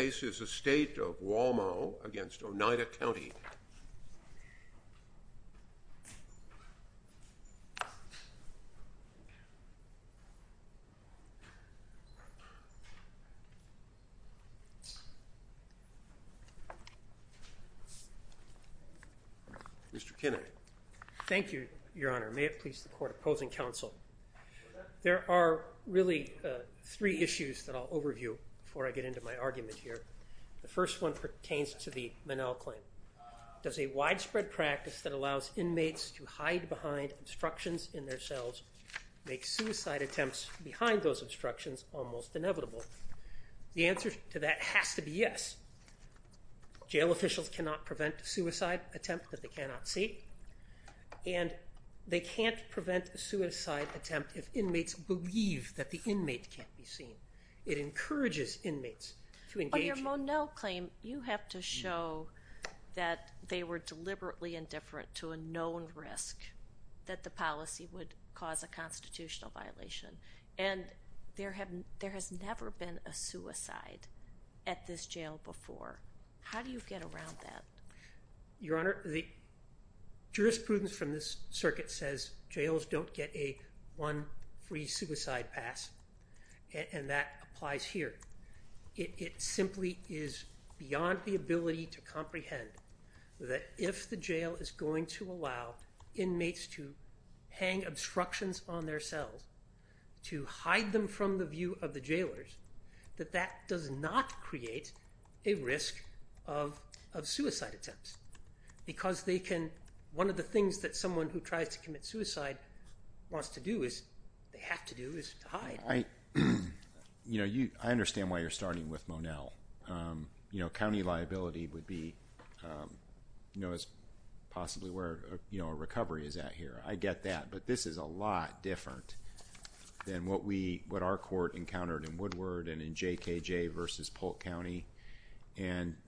against Oneida County. Mr. Kinney. Thank you, Your Honor. May it please the Court opposing counsel. There are really three issues that I'll overview before I get into my argument here. The first one pertains to the Minnell claim. Does a widespread practice that allows inmates to hide behind obstructions in their cells make suicide attempts behind those obstructions almost inevitable? The answer to that has to be yes. Jail officials cannot prevent a suicide attempt that they cannot see, and they can't prevent a suicide attempt if inmates believe that the inmate can't be seen. It encourages inmates to engage. On your Minnell claim, you have to show that they were deliberately indifferent to a known risk that the policy would cause a constitutional violation, and there has never been a suicide at this jail before. How do you get around that? Your Honor, the jurisprudence from this circuit says jails don't get a one free suicide pass, and that applies here. It simply is beyond the ability to comprehend that if the jail is going to allow inmates to hang obstructions on their cells to hide them from the view of the jailers, that that does not create a risk of suicide attempts, because one of the things that someone who tries to commit suicide wants to do, they have to do, is to hide. I understand why you're starting with Monell. County liability would be possibly where a recovery is at here. I get that, but this is a lot different than what our court encountered in Woodward and in JKJ versus Polk County.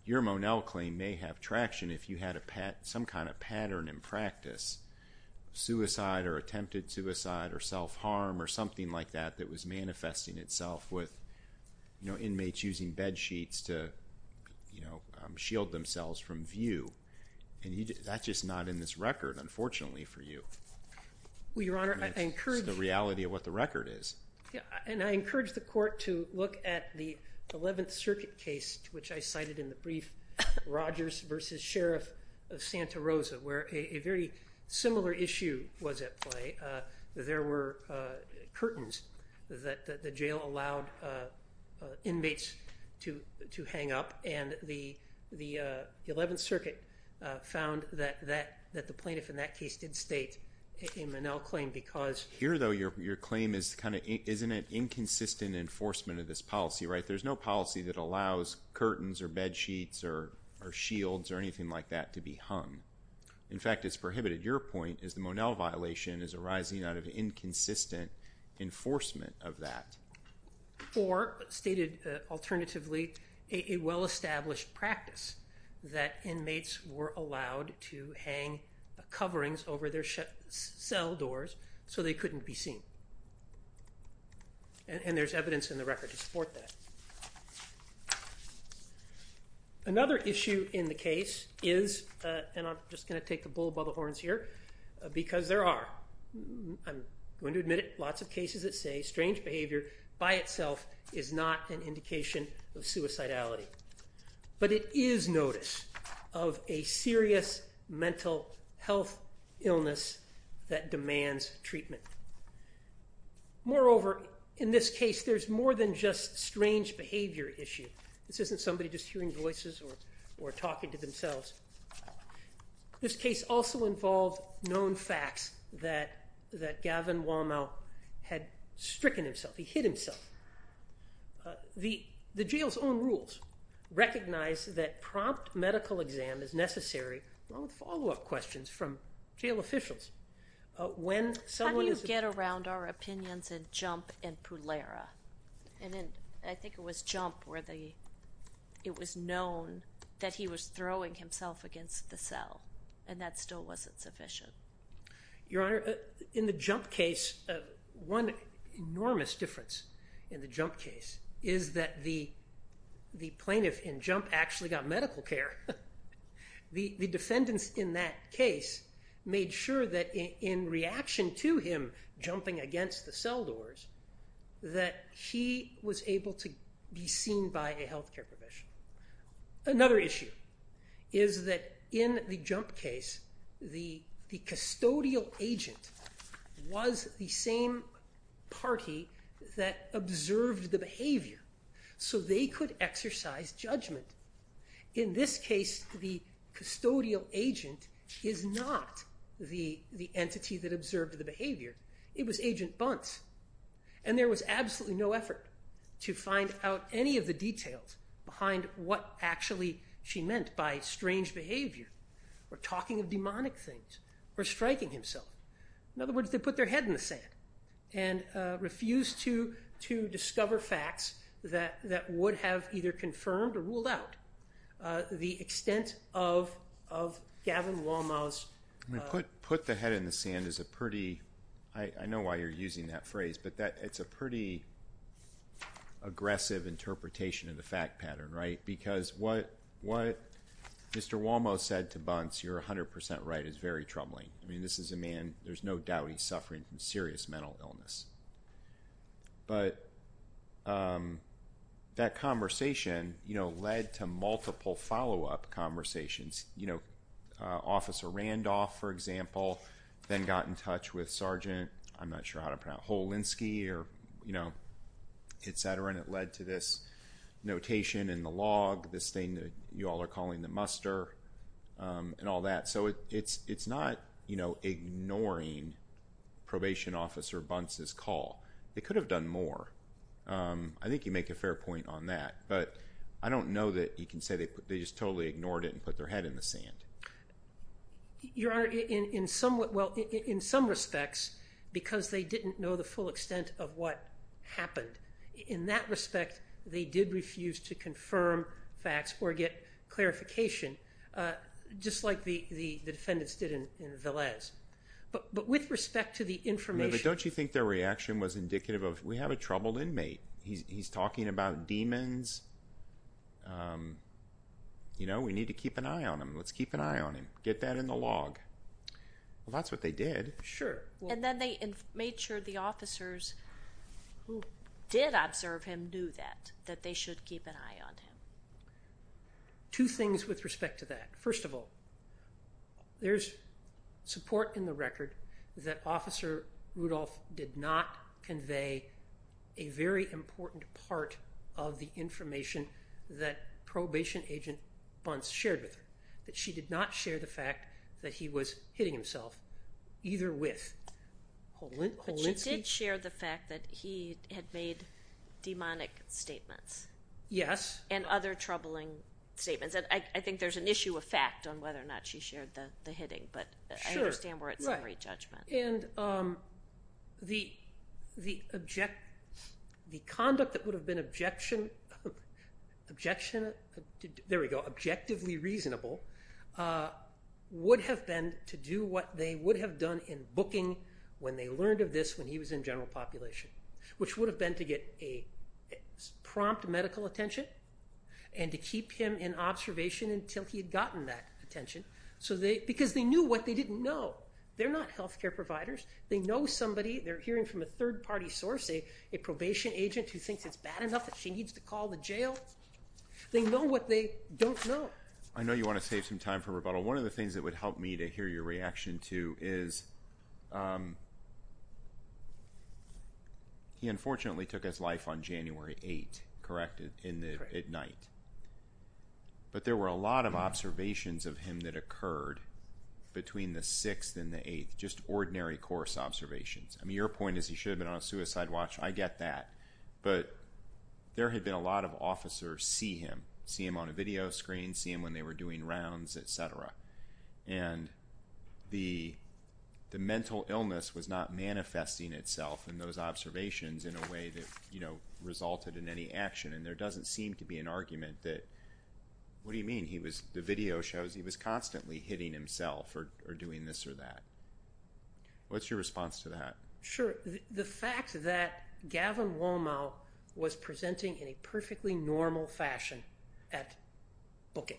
Your Monell claim may have traction if you had some kind of pattern in practice. Suicide or attempted suicide or self-harm or something like that that was manifesting itself with inmates using bed sheets to shield themselves from view. That's just not in this record, unfortunately, for you. It's the reality of what the record is. I encourage the court to look at the 11th Circuit case which I cited in the brief, Rogers versus Sheriff of Santa Cruz. A similar issue was at play. There were curtains that the jail allowed inmates to hang up, and the 11th Circuit found that the plaintiff in that case did state a Monell claim because... Here, though, your claim is an inconsistent enforcement of this policy. There's no policy that allows curtains or bed sheets or shields or anything like that to be hung. In fact, it's prohibited. Your point is the Monell violation is arising out of inconsistent enforcement of that. Or, stated alternatively, a well-established practice that inmates were allowed to hang coverings over their cell doors so they couldn't be seen. And there's evidence in the record to support that. Another issue in the case is, and I'm just going to take the bull by the horns here, because there are, I'm going to admit it, lots of cases that say strange behavior by itself is not an indication of suicidality. But it is notice of a serious mental health illness that demands treatment. Moreover, in this case, there's more than just strange behavior issue. This isn't somebody just hearing voices or talking to themselves. This case also involved known facts that Gavin Womow had stricken himself. He hid himself. The jail's own rules recognize that prompt medical exam is necessary, along with follow-up questions from jail officials. When someone is... How do you get around our opinions in Jump and Pulera? And in, I think it was Jump where it was known that he was throwing himself against the cell, and that still wasn't sufficient. Your Honor, in the Jump case, one enormous difference in the Jump case is that the plaintiff in Jump actually got medical care. The defendants in that case made sure that in reaction to him jumping against the cell doors that he was able to be seen by a health care professional. Another issue is that in the Jump case, the custodial agent was the same party that observed the behavior, so they could exercise judgment. In this case, the custodial agent is not the entity that observed the behavior. It was Agent Bunce, and there was absolutely no effort to find out any of the details behind what actually she meant by strange behavior, or talking of demonic things, or striking himself. In other words, they put their head in the sand and refused to discover facts that would have either confirmed or ruled out the extent of Gavin Womow's... Put the head in the sand is a pretty... I know why you're using that phrase, but it's a pretty aggressive interpretation of the fact pattern, right? Because what Mr. Womow said to Bunce, you're 100% right, is very troubling. This is a man, there's no doubt he's suffering from serious mental illness. But that conversation led to multiple follow-up conversations. Officer Randolph, for example, then got in touch with Sergeant, I'm not sure how to pronounce it, Holinsky, etc., and it led to this notation in the log, this thing that you all are calling the muster, and all that. So it's not ignoring Probation Officer Bunce's call. They could have done more. I think you make a fair point on that, but I don't know that you can say they just totally ignored it and put their head in the sand. Your Honor, in some respects, because they didn't know the full extent of what happened, in that respect they did refuse to confirm facts or get clarification, just like the defendants did in Velez. But with respect to the information... But don't you think their reaction was indicative of, we have a troubled inmate, he's talking about demons, you know, we need to keep an eye on him. Let's keep an eye on him. Get that in the log. Well, that's what they did. Sure. And then they made sure the officers who did observe him knew that, that they should keep an eye on him. Two things with respect to that. First of all, there's support in the record that Officer Rudolph did not convey a very important part of the information that Probation Agent Bunce shared with her. That she did not share the fact that he was hitting himself, either with Holinsky... But she did share the fact that he had made demonic statements. Yes. And other troubling statements. I think there's an issue of fact on whether or not she shared the hitting, but I understand we're at summary judgment. And the conduct that would have been objectively reasonable would have been to do what they would have done in booking when they learned of this when he was in general population. Which would have been to get a prompt medical attention and to keep him in observation until he had gotten that attention. Because they knew what they didn't know. They're not health care providers. They know somebody. They're hearing from a third party source, a probation agent who thinks it's bad enough that she needs to call the jail. They know what they don't know. I know you want to save some time for rebuttal. One of the things that would help me to hear your reaction to is he unfortunately took his life on January 8th, correct? At night. But there were a lot of observations of him that occurred between the course observations. I mean your point is he should have been on a suicide watch. I get that. But there had been a lot of officers see him. See him on a video screen. See him when they were doing rounds, etc. And the mental illness was not manifesting itself in those observations in a way that resulted in any action. And there doesn't seem to be an argument that what do you mean? The video shows he was constantly hitting himself or doing this or that. What's your response to that? Sure. The fact that Gavin Womow was presenting in a perfectly normal fashion at booking.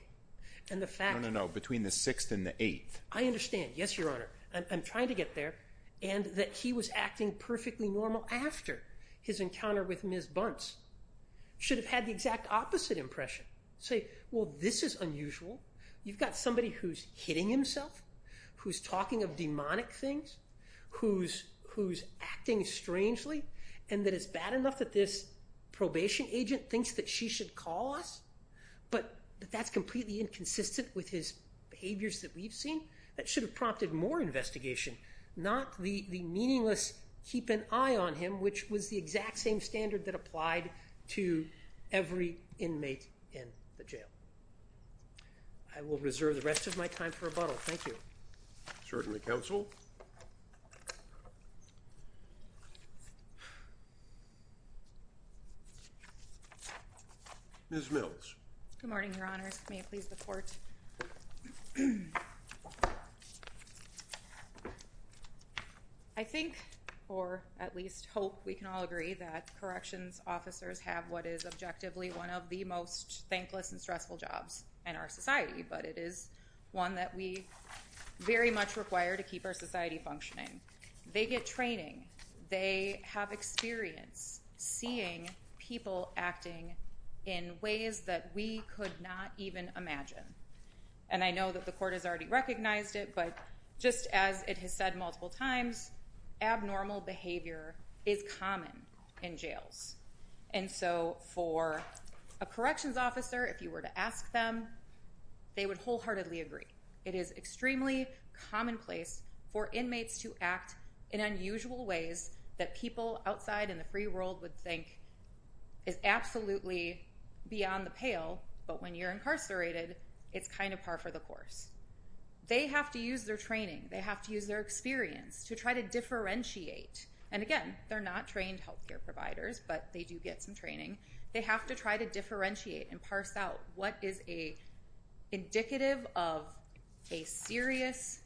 No, no, no. Between the 6th and the 8th. I understand. Yes, Your Honor. I'm trying to get there. And that he was acting perfectly normal after his encounter with Ms. Bunce should have had the exact opposite impression. Say, well, this is unusual. You've got somebody who's hitting himself, who's talking of demonic things, who's acting strangely, and that it's bad enough that this probation agent thinks that she should call us, but that's completely inconsistent with his behaviors that we've seen. That should have prompted more investigation, not the meaningless keep an eye on him, which was the exact same standard that applied to every inmate in the jail. I will reserve the rest of my time for rebuttal. Thank you. Certainly, Counsel. Ms. Mills. Good morning, Your Honors. May it please the Court. I think or at least hope we can all agree that corrections officers have what is objectively one of the most thankless and stressful jobs in our society, but it is one that we very much require to keep our society functioning. They get training. They have experience seeing people acting in ways that we could not even imagine. And I know that the Court has already recognized it, but just as it has said multiple times, abnormal behavior is common in jails. And so for a corrections officer, if you were to ask them, they would wholeheartedly agree. It is extremely commonplace for inmates to act in unusual ways that people outside in the free world would think is absolutely beyond the pale, but when you're incarcerated it's kind of par for the course. They have to use their training. They have to use their experience to try to differentiate. And again, they're not trained health care providers, but they do get some training. They have to try to differentiate and parse out what is indicative of a serious,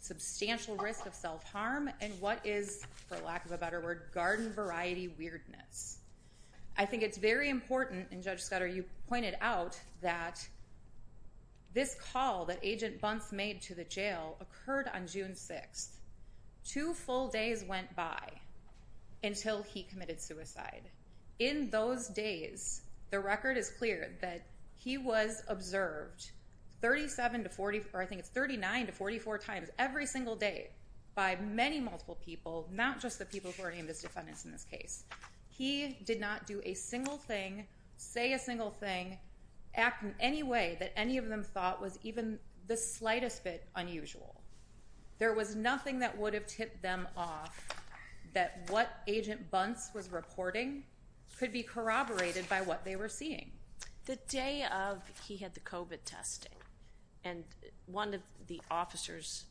substantial risk of self-harm and what is, for lack of a better word, garden variety weirdness. I think it's very important, and Judge Scudder, you pointed out that this call that Agent Bunce made to the jail occurred on June 6th. Two full days went by until he committed suicide. In those days, the record is clear that he was observed 37 to 40, or I think it's 39 to 44 times every single day by many multiple people, not just the people who are named as defendants in this case. He did not do a single thing, say a single thing, act in any way that any of them thought was even the slightest bit unusual. There was nothing that would have tipped them off that what Agent Bunce was reporting could be corroborated by what they were seeing. The day of, he had the COVID testing and one of the officers,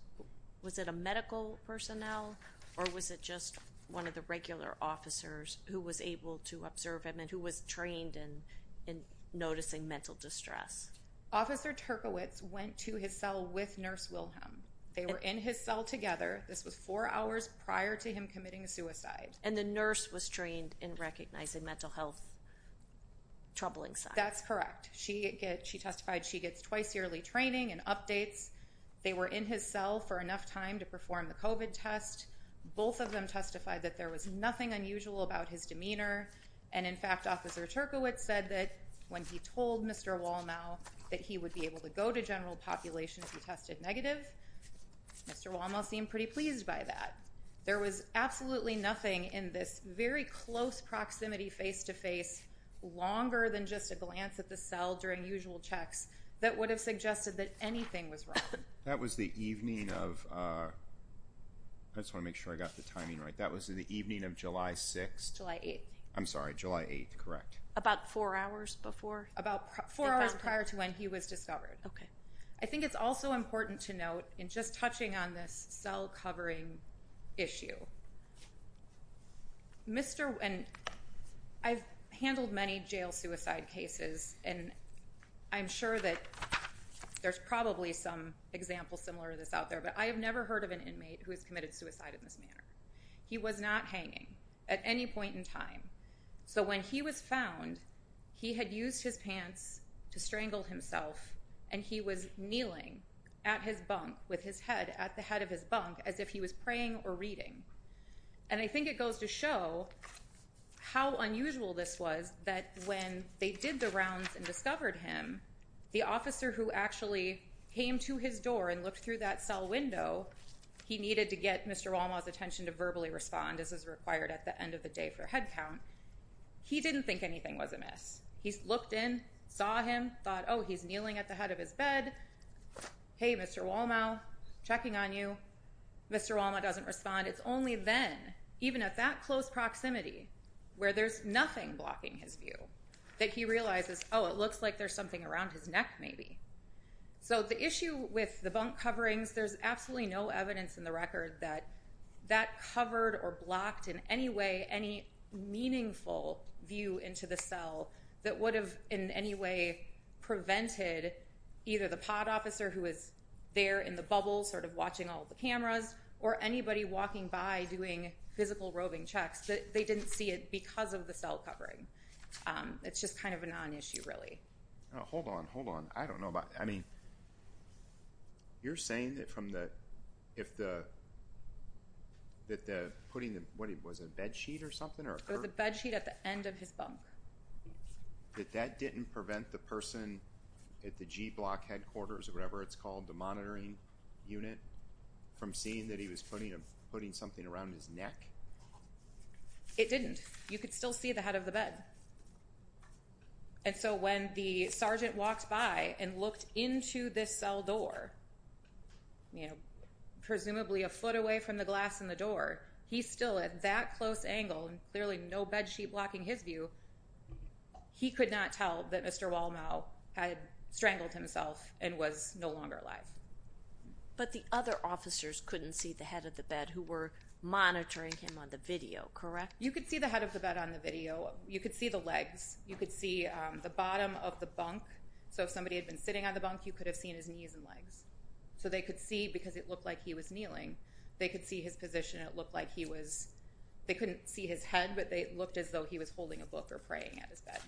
was it a medical personnel or was it just one of the regular officers who was able to observe him and who was trained in noticing mental distress? Officer Turkowitz went to his cell with Nurse Wilhelm. They were in his cell together. This was four hours prior to him committing suicide. And the nurse was trained in recognizing mental health troubling signs. That's correct. She testified she gets twice yearly training and updates. They were in his cell for enough time to perform the COVID test. Both of them testified that there was nothing unusual about his demeanor and in fact, Officer Turkowitz said that when he told Mr. Wallnau that he would be able to go to general population if he tested negative, Mr. Wallnau seemed pretty pleased by that. There was absolutely nothing in this very close proximity face-to-face longer than just a glance at the cell during usual checks that would have suggested that anything was wrong. That was the evening of I just want to make sure I got the timing right. That was the evening of July 6th. July 8th. I'm sorry, July 8th, correct. About four hours before? About four hours prior to when he was discovered. Okay. I think it's also important to note, in just touching on this cell covering issue, I've handled many jail suicide cases and I'm sure that there's probably some examples similar to this out there, but I have never heard of an inmate who has committed suicide in this manner. He was not hanging at any point in time. So when he was found, he had used his pants to strangle himself and he was kneeling at his bunk with his head at the head of his bunk as if he was praying or reading. And I think it goes to show how unusual this was that when they did the rounds and discovered him, the officer who actually came to his door and looked through that cell window, he needed to get Mr. Wallnau's attention to verbally respond as is required at the end of the day for head count. He didn't think anything was amiss. He looked in, saw him, thought, oh, he's kneeling at the head of his bed. Hey, Mr. Wallnau, checking on you. Mr. Wallnau doesn't respond. It's only then, even at that close proximity, where there's nothing blocking his view, that he realizes, oh, it looks like there's something around his neck maybe. So the issue with the bunk coverings, there's absolutely no evidence in the record that that covered or blocked in any way any meaningful view into the cell that would have in any way prevented either the pod officer who was there in the bubble sort of watching all the cameras or anybody walking by doing physical roving checks that they didn't see it because of the cell covering. It's just kind of a non-issue really. Hold on. Hold on. I don't know about that. I mean, you're saying that from the, if the, that the putting the, what was it, a bed sheet or something? It was a bed sheet at the end of his bunk. That that didn't prevent the person at the G-block headquarters or whatever it's called, the monitoring unit, from seeing that he was putting something around his neck? It didn't. You could still see the head of the bed. And so when the sergeant walked by and looked into this cell door, you know, presumably a foot away from the glass in the door, he's still at that close angle and clearly no bed sheet blocking his view. He could not tell that Mr. Wallnau had strangled himself and was no longer alive. But the other officers couldn't see the head of the bed who were monitoring him on the video, correct? You could see the head of the bed on the video. You could see the legs. You could see the bottom of the bunk. So if somebody had been sitting on the bunk, you could have seen his knees and legs. So they could see, because it looked like he was kneeling, they could see his position. It looked like he was, they couldn't see his head, but they looked as though he was holding a book or praying at his bed.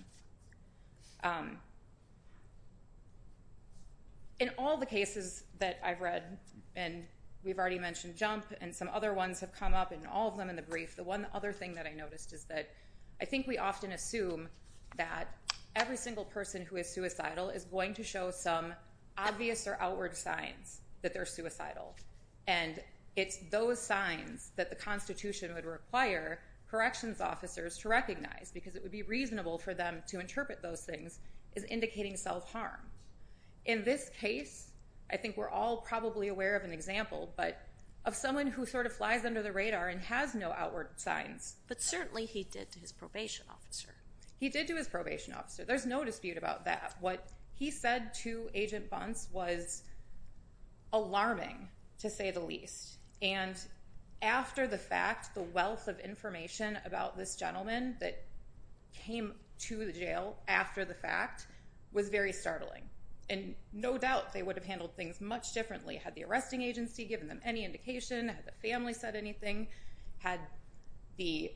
In all the cases that I've read, and we've already mentioned Jump and some other ones have come up, and all of them in the brief, the one other thing that I noticed is that I think we often assume that every single person who is suicidal is going to show some obvious or outward signs that they're suicidal. And it's those signs that the Constitution would require corrections officers to recognize because it would be reasonable for them to interpret those things as indicating self-harm. In this case, I think we're all probably aware of an example, but of someone who sort of flies under the radar and has no outward signs. But certainly he did to his probation officer. He did to his probation officer. There's no dispute about that. What he said to Agent Bunce was alarming, to say the least. And after the fact, the wealth of information about this gentleman that came to the jail after the fact was very startling. And no doubt they would have handled things much differently. Had the arresting agency given them any indication? Had the family said anything? Had the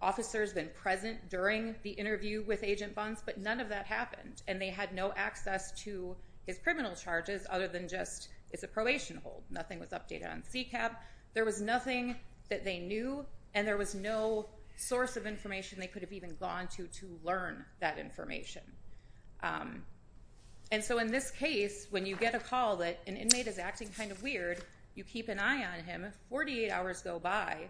officers been present during the interview with Agent Bunce? But none of that happened. And they had no access to his criminal charges other than just, it's a probation hold. Nothing was updated on CCAB. There was nothing that they knew, and there was no source of information they could have even gone to to learn that information. And so in this case, when you get a call that an inmate is acting kind of weird, you keep an eye on him, 48 hours go by,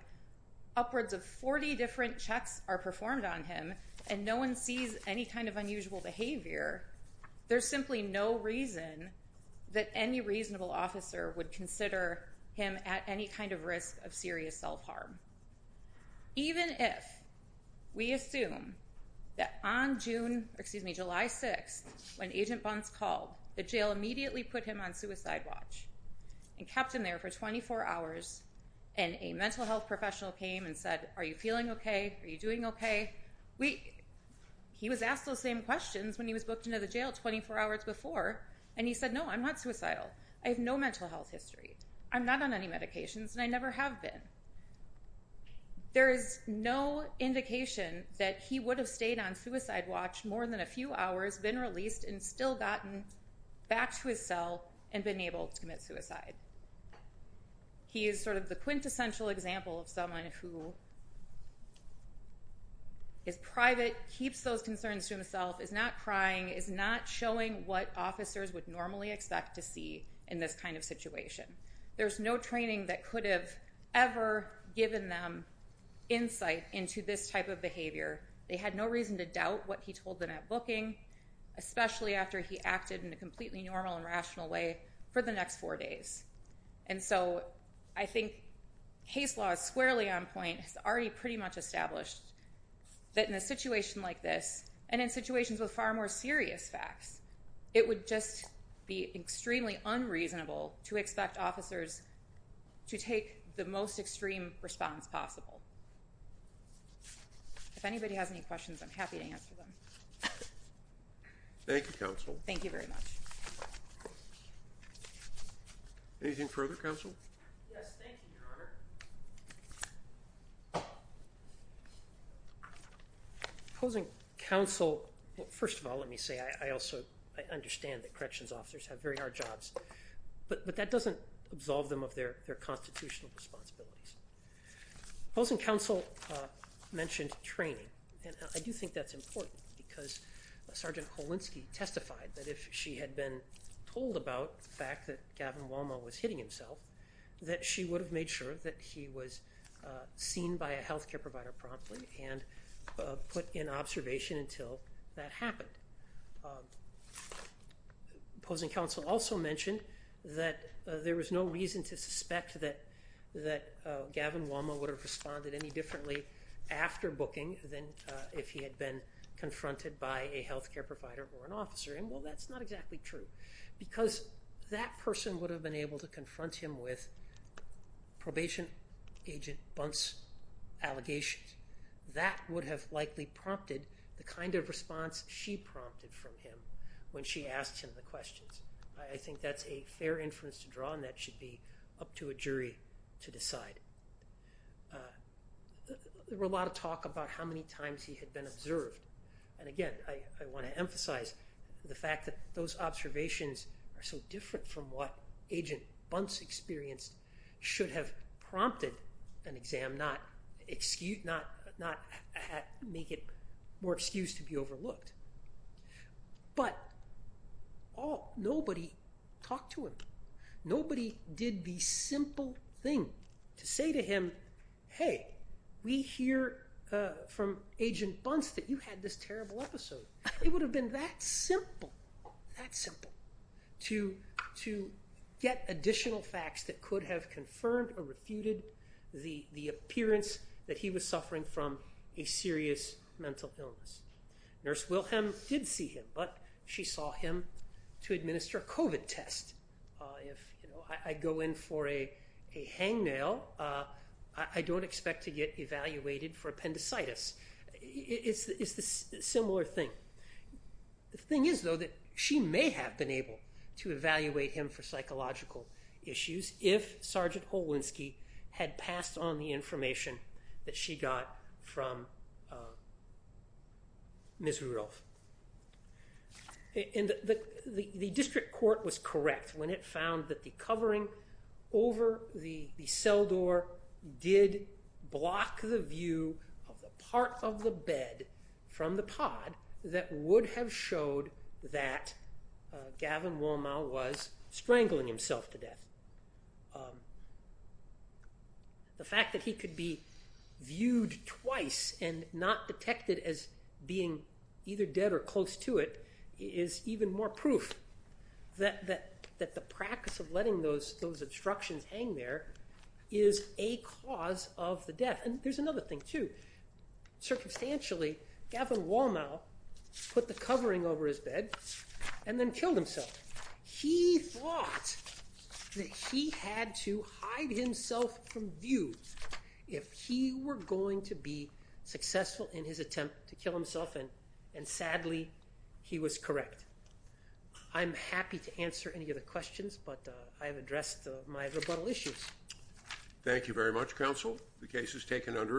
upwards of 40 different checks are performed on him, and no one sees any kind of unusual behavior. There's simply no reason that any reasonable officer would consider him at any kind of risk of serious self-harm. Even if we assume that on July 6th, when Agent Bunce called, the jail immediately put him on suicide watch and kept him there for 24 hours, and a mental health professional came and said, are you feeling okay? Are you doing okay? He was asked those same questions when he was booked into the jail 24 hours before, and he said, no, I'm not suicidal. I have no mental health history. I'm not on any medications, and I never have been. There is no indication that he would have stayed on suicide watch more than a few hours, been released, and still gotten back to his cell and been able to commit suicide. He is sort of the quintessential example of someone who is private, keeps those concerns to himself, is not crying, is not showing what officers would normally expect to see in this kind of situation. There's no training that could have ever given them insight into this type of behavior. They had no reason to doubt what he told them at booking, especially after he acted in a completely normal and rational way for the next four days. I think Hays' Law is squarely on point. It's already pretty much established that in a situation like this, and in situations with far more serious facts, it would just be extremely unreasonable to expect officers to take the most If anybody has any questions, I'm happy to answer them. Thank you, Counsel. Thank you very much. Anything further, Counsel? Yes, thank you, Your Honor. Opposing Counsel, well, first of all, let me say I also understand that corrections officers have very hard jobs, but that doesn't absolve them of their constitutional responsibilities. Opposing Counsel mentioned training, and I do think that's important, because Sergeant Kolinsky testified that if she had been told about the fact that Gavin Walma was hitting himself, that she would have made sure that he was seen by a health care provider promptly and put in observation until that happened. Opposing Counsel also mentioned that there was no reason to think that Gavin Walma would have responded any differently after booking than if he had been confronted by a health care provider or an officer. Well, that's not exactly true, because that person would have been able to confront him with Probation Agent Bunt's allegations. That would have likely prompted the kind of response she prompted from him when she asked him the questions. I think that's a fair inference to draw, and that should be up to a jury to decide. There were a lot of talk about how many times he had been observed, and again, I want to emphasize the fact that those observations are so different from what Agent Bunt's experience should have prompted an exam, not make it more excuse to be overlooked. But nobody talked to him. Nobody did the simple thing to say to him, hey, we hear from Agent Bunt that you had this terrible episode. It would have been that simple to get additional facts that could have confirmed or refuted the appearance that he was suffering from a serious mental illness. It's a COVID test. If I go in for a hangnail, I don't expect to get evaluated for appendicitis. It's a similar thing. The thing is, though, that she may have been able to evaluate him for psychological issues if Sergeant Holinsky had passed on the information that she got from Ms. Rudolph. The district court was correct when it found that the covering over the cell door did block the view of the part of the bed from the pod that would have showed that Gavin Womow was strangling himself to death. The fact that he could be viewed twice and not detected as being either dead or close to it is even more proof that the practice of letting those obstructions hang there is a cause of the death. There's another thing, too. Circumstantially, Gavin Womow put the covering over his bed and then killed himself. He thought that he had to hide himself from view if he were going to be able to attempt to kill himself, and sadly, he was correct. I'm happy to answer any other questions, but I have addressed my rebuttal issues. Thank you very much, Counsel. The case is taken under advisement.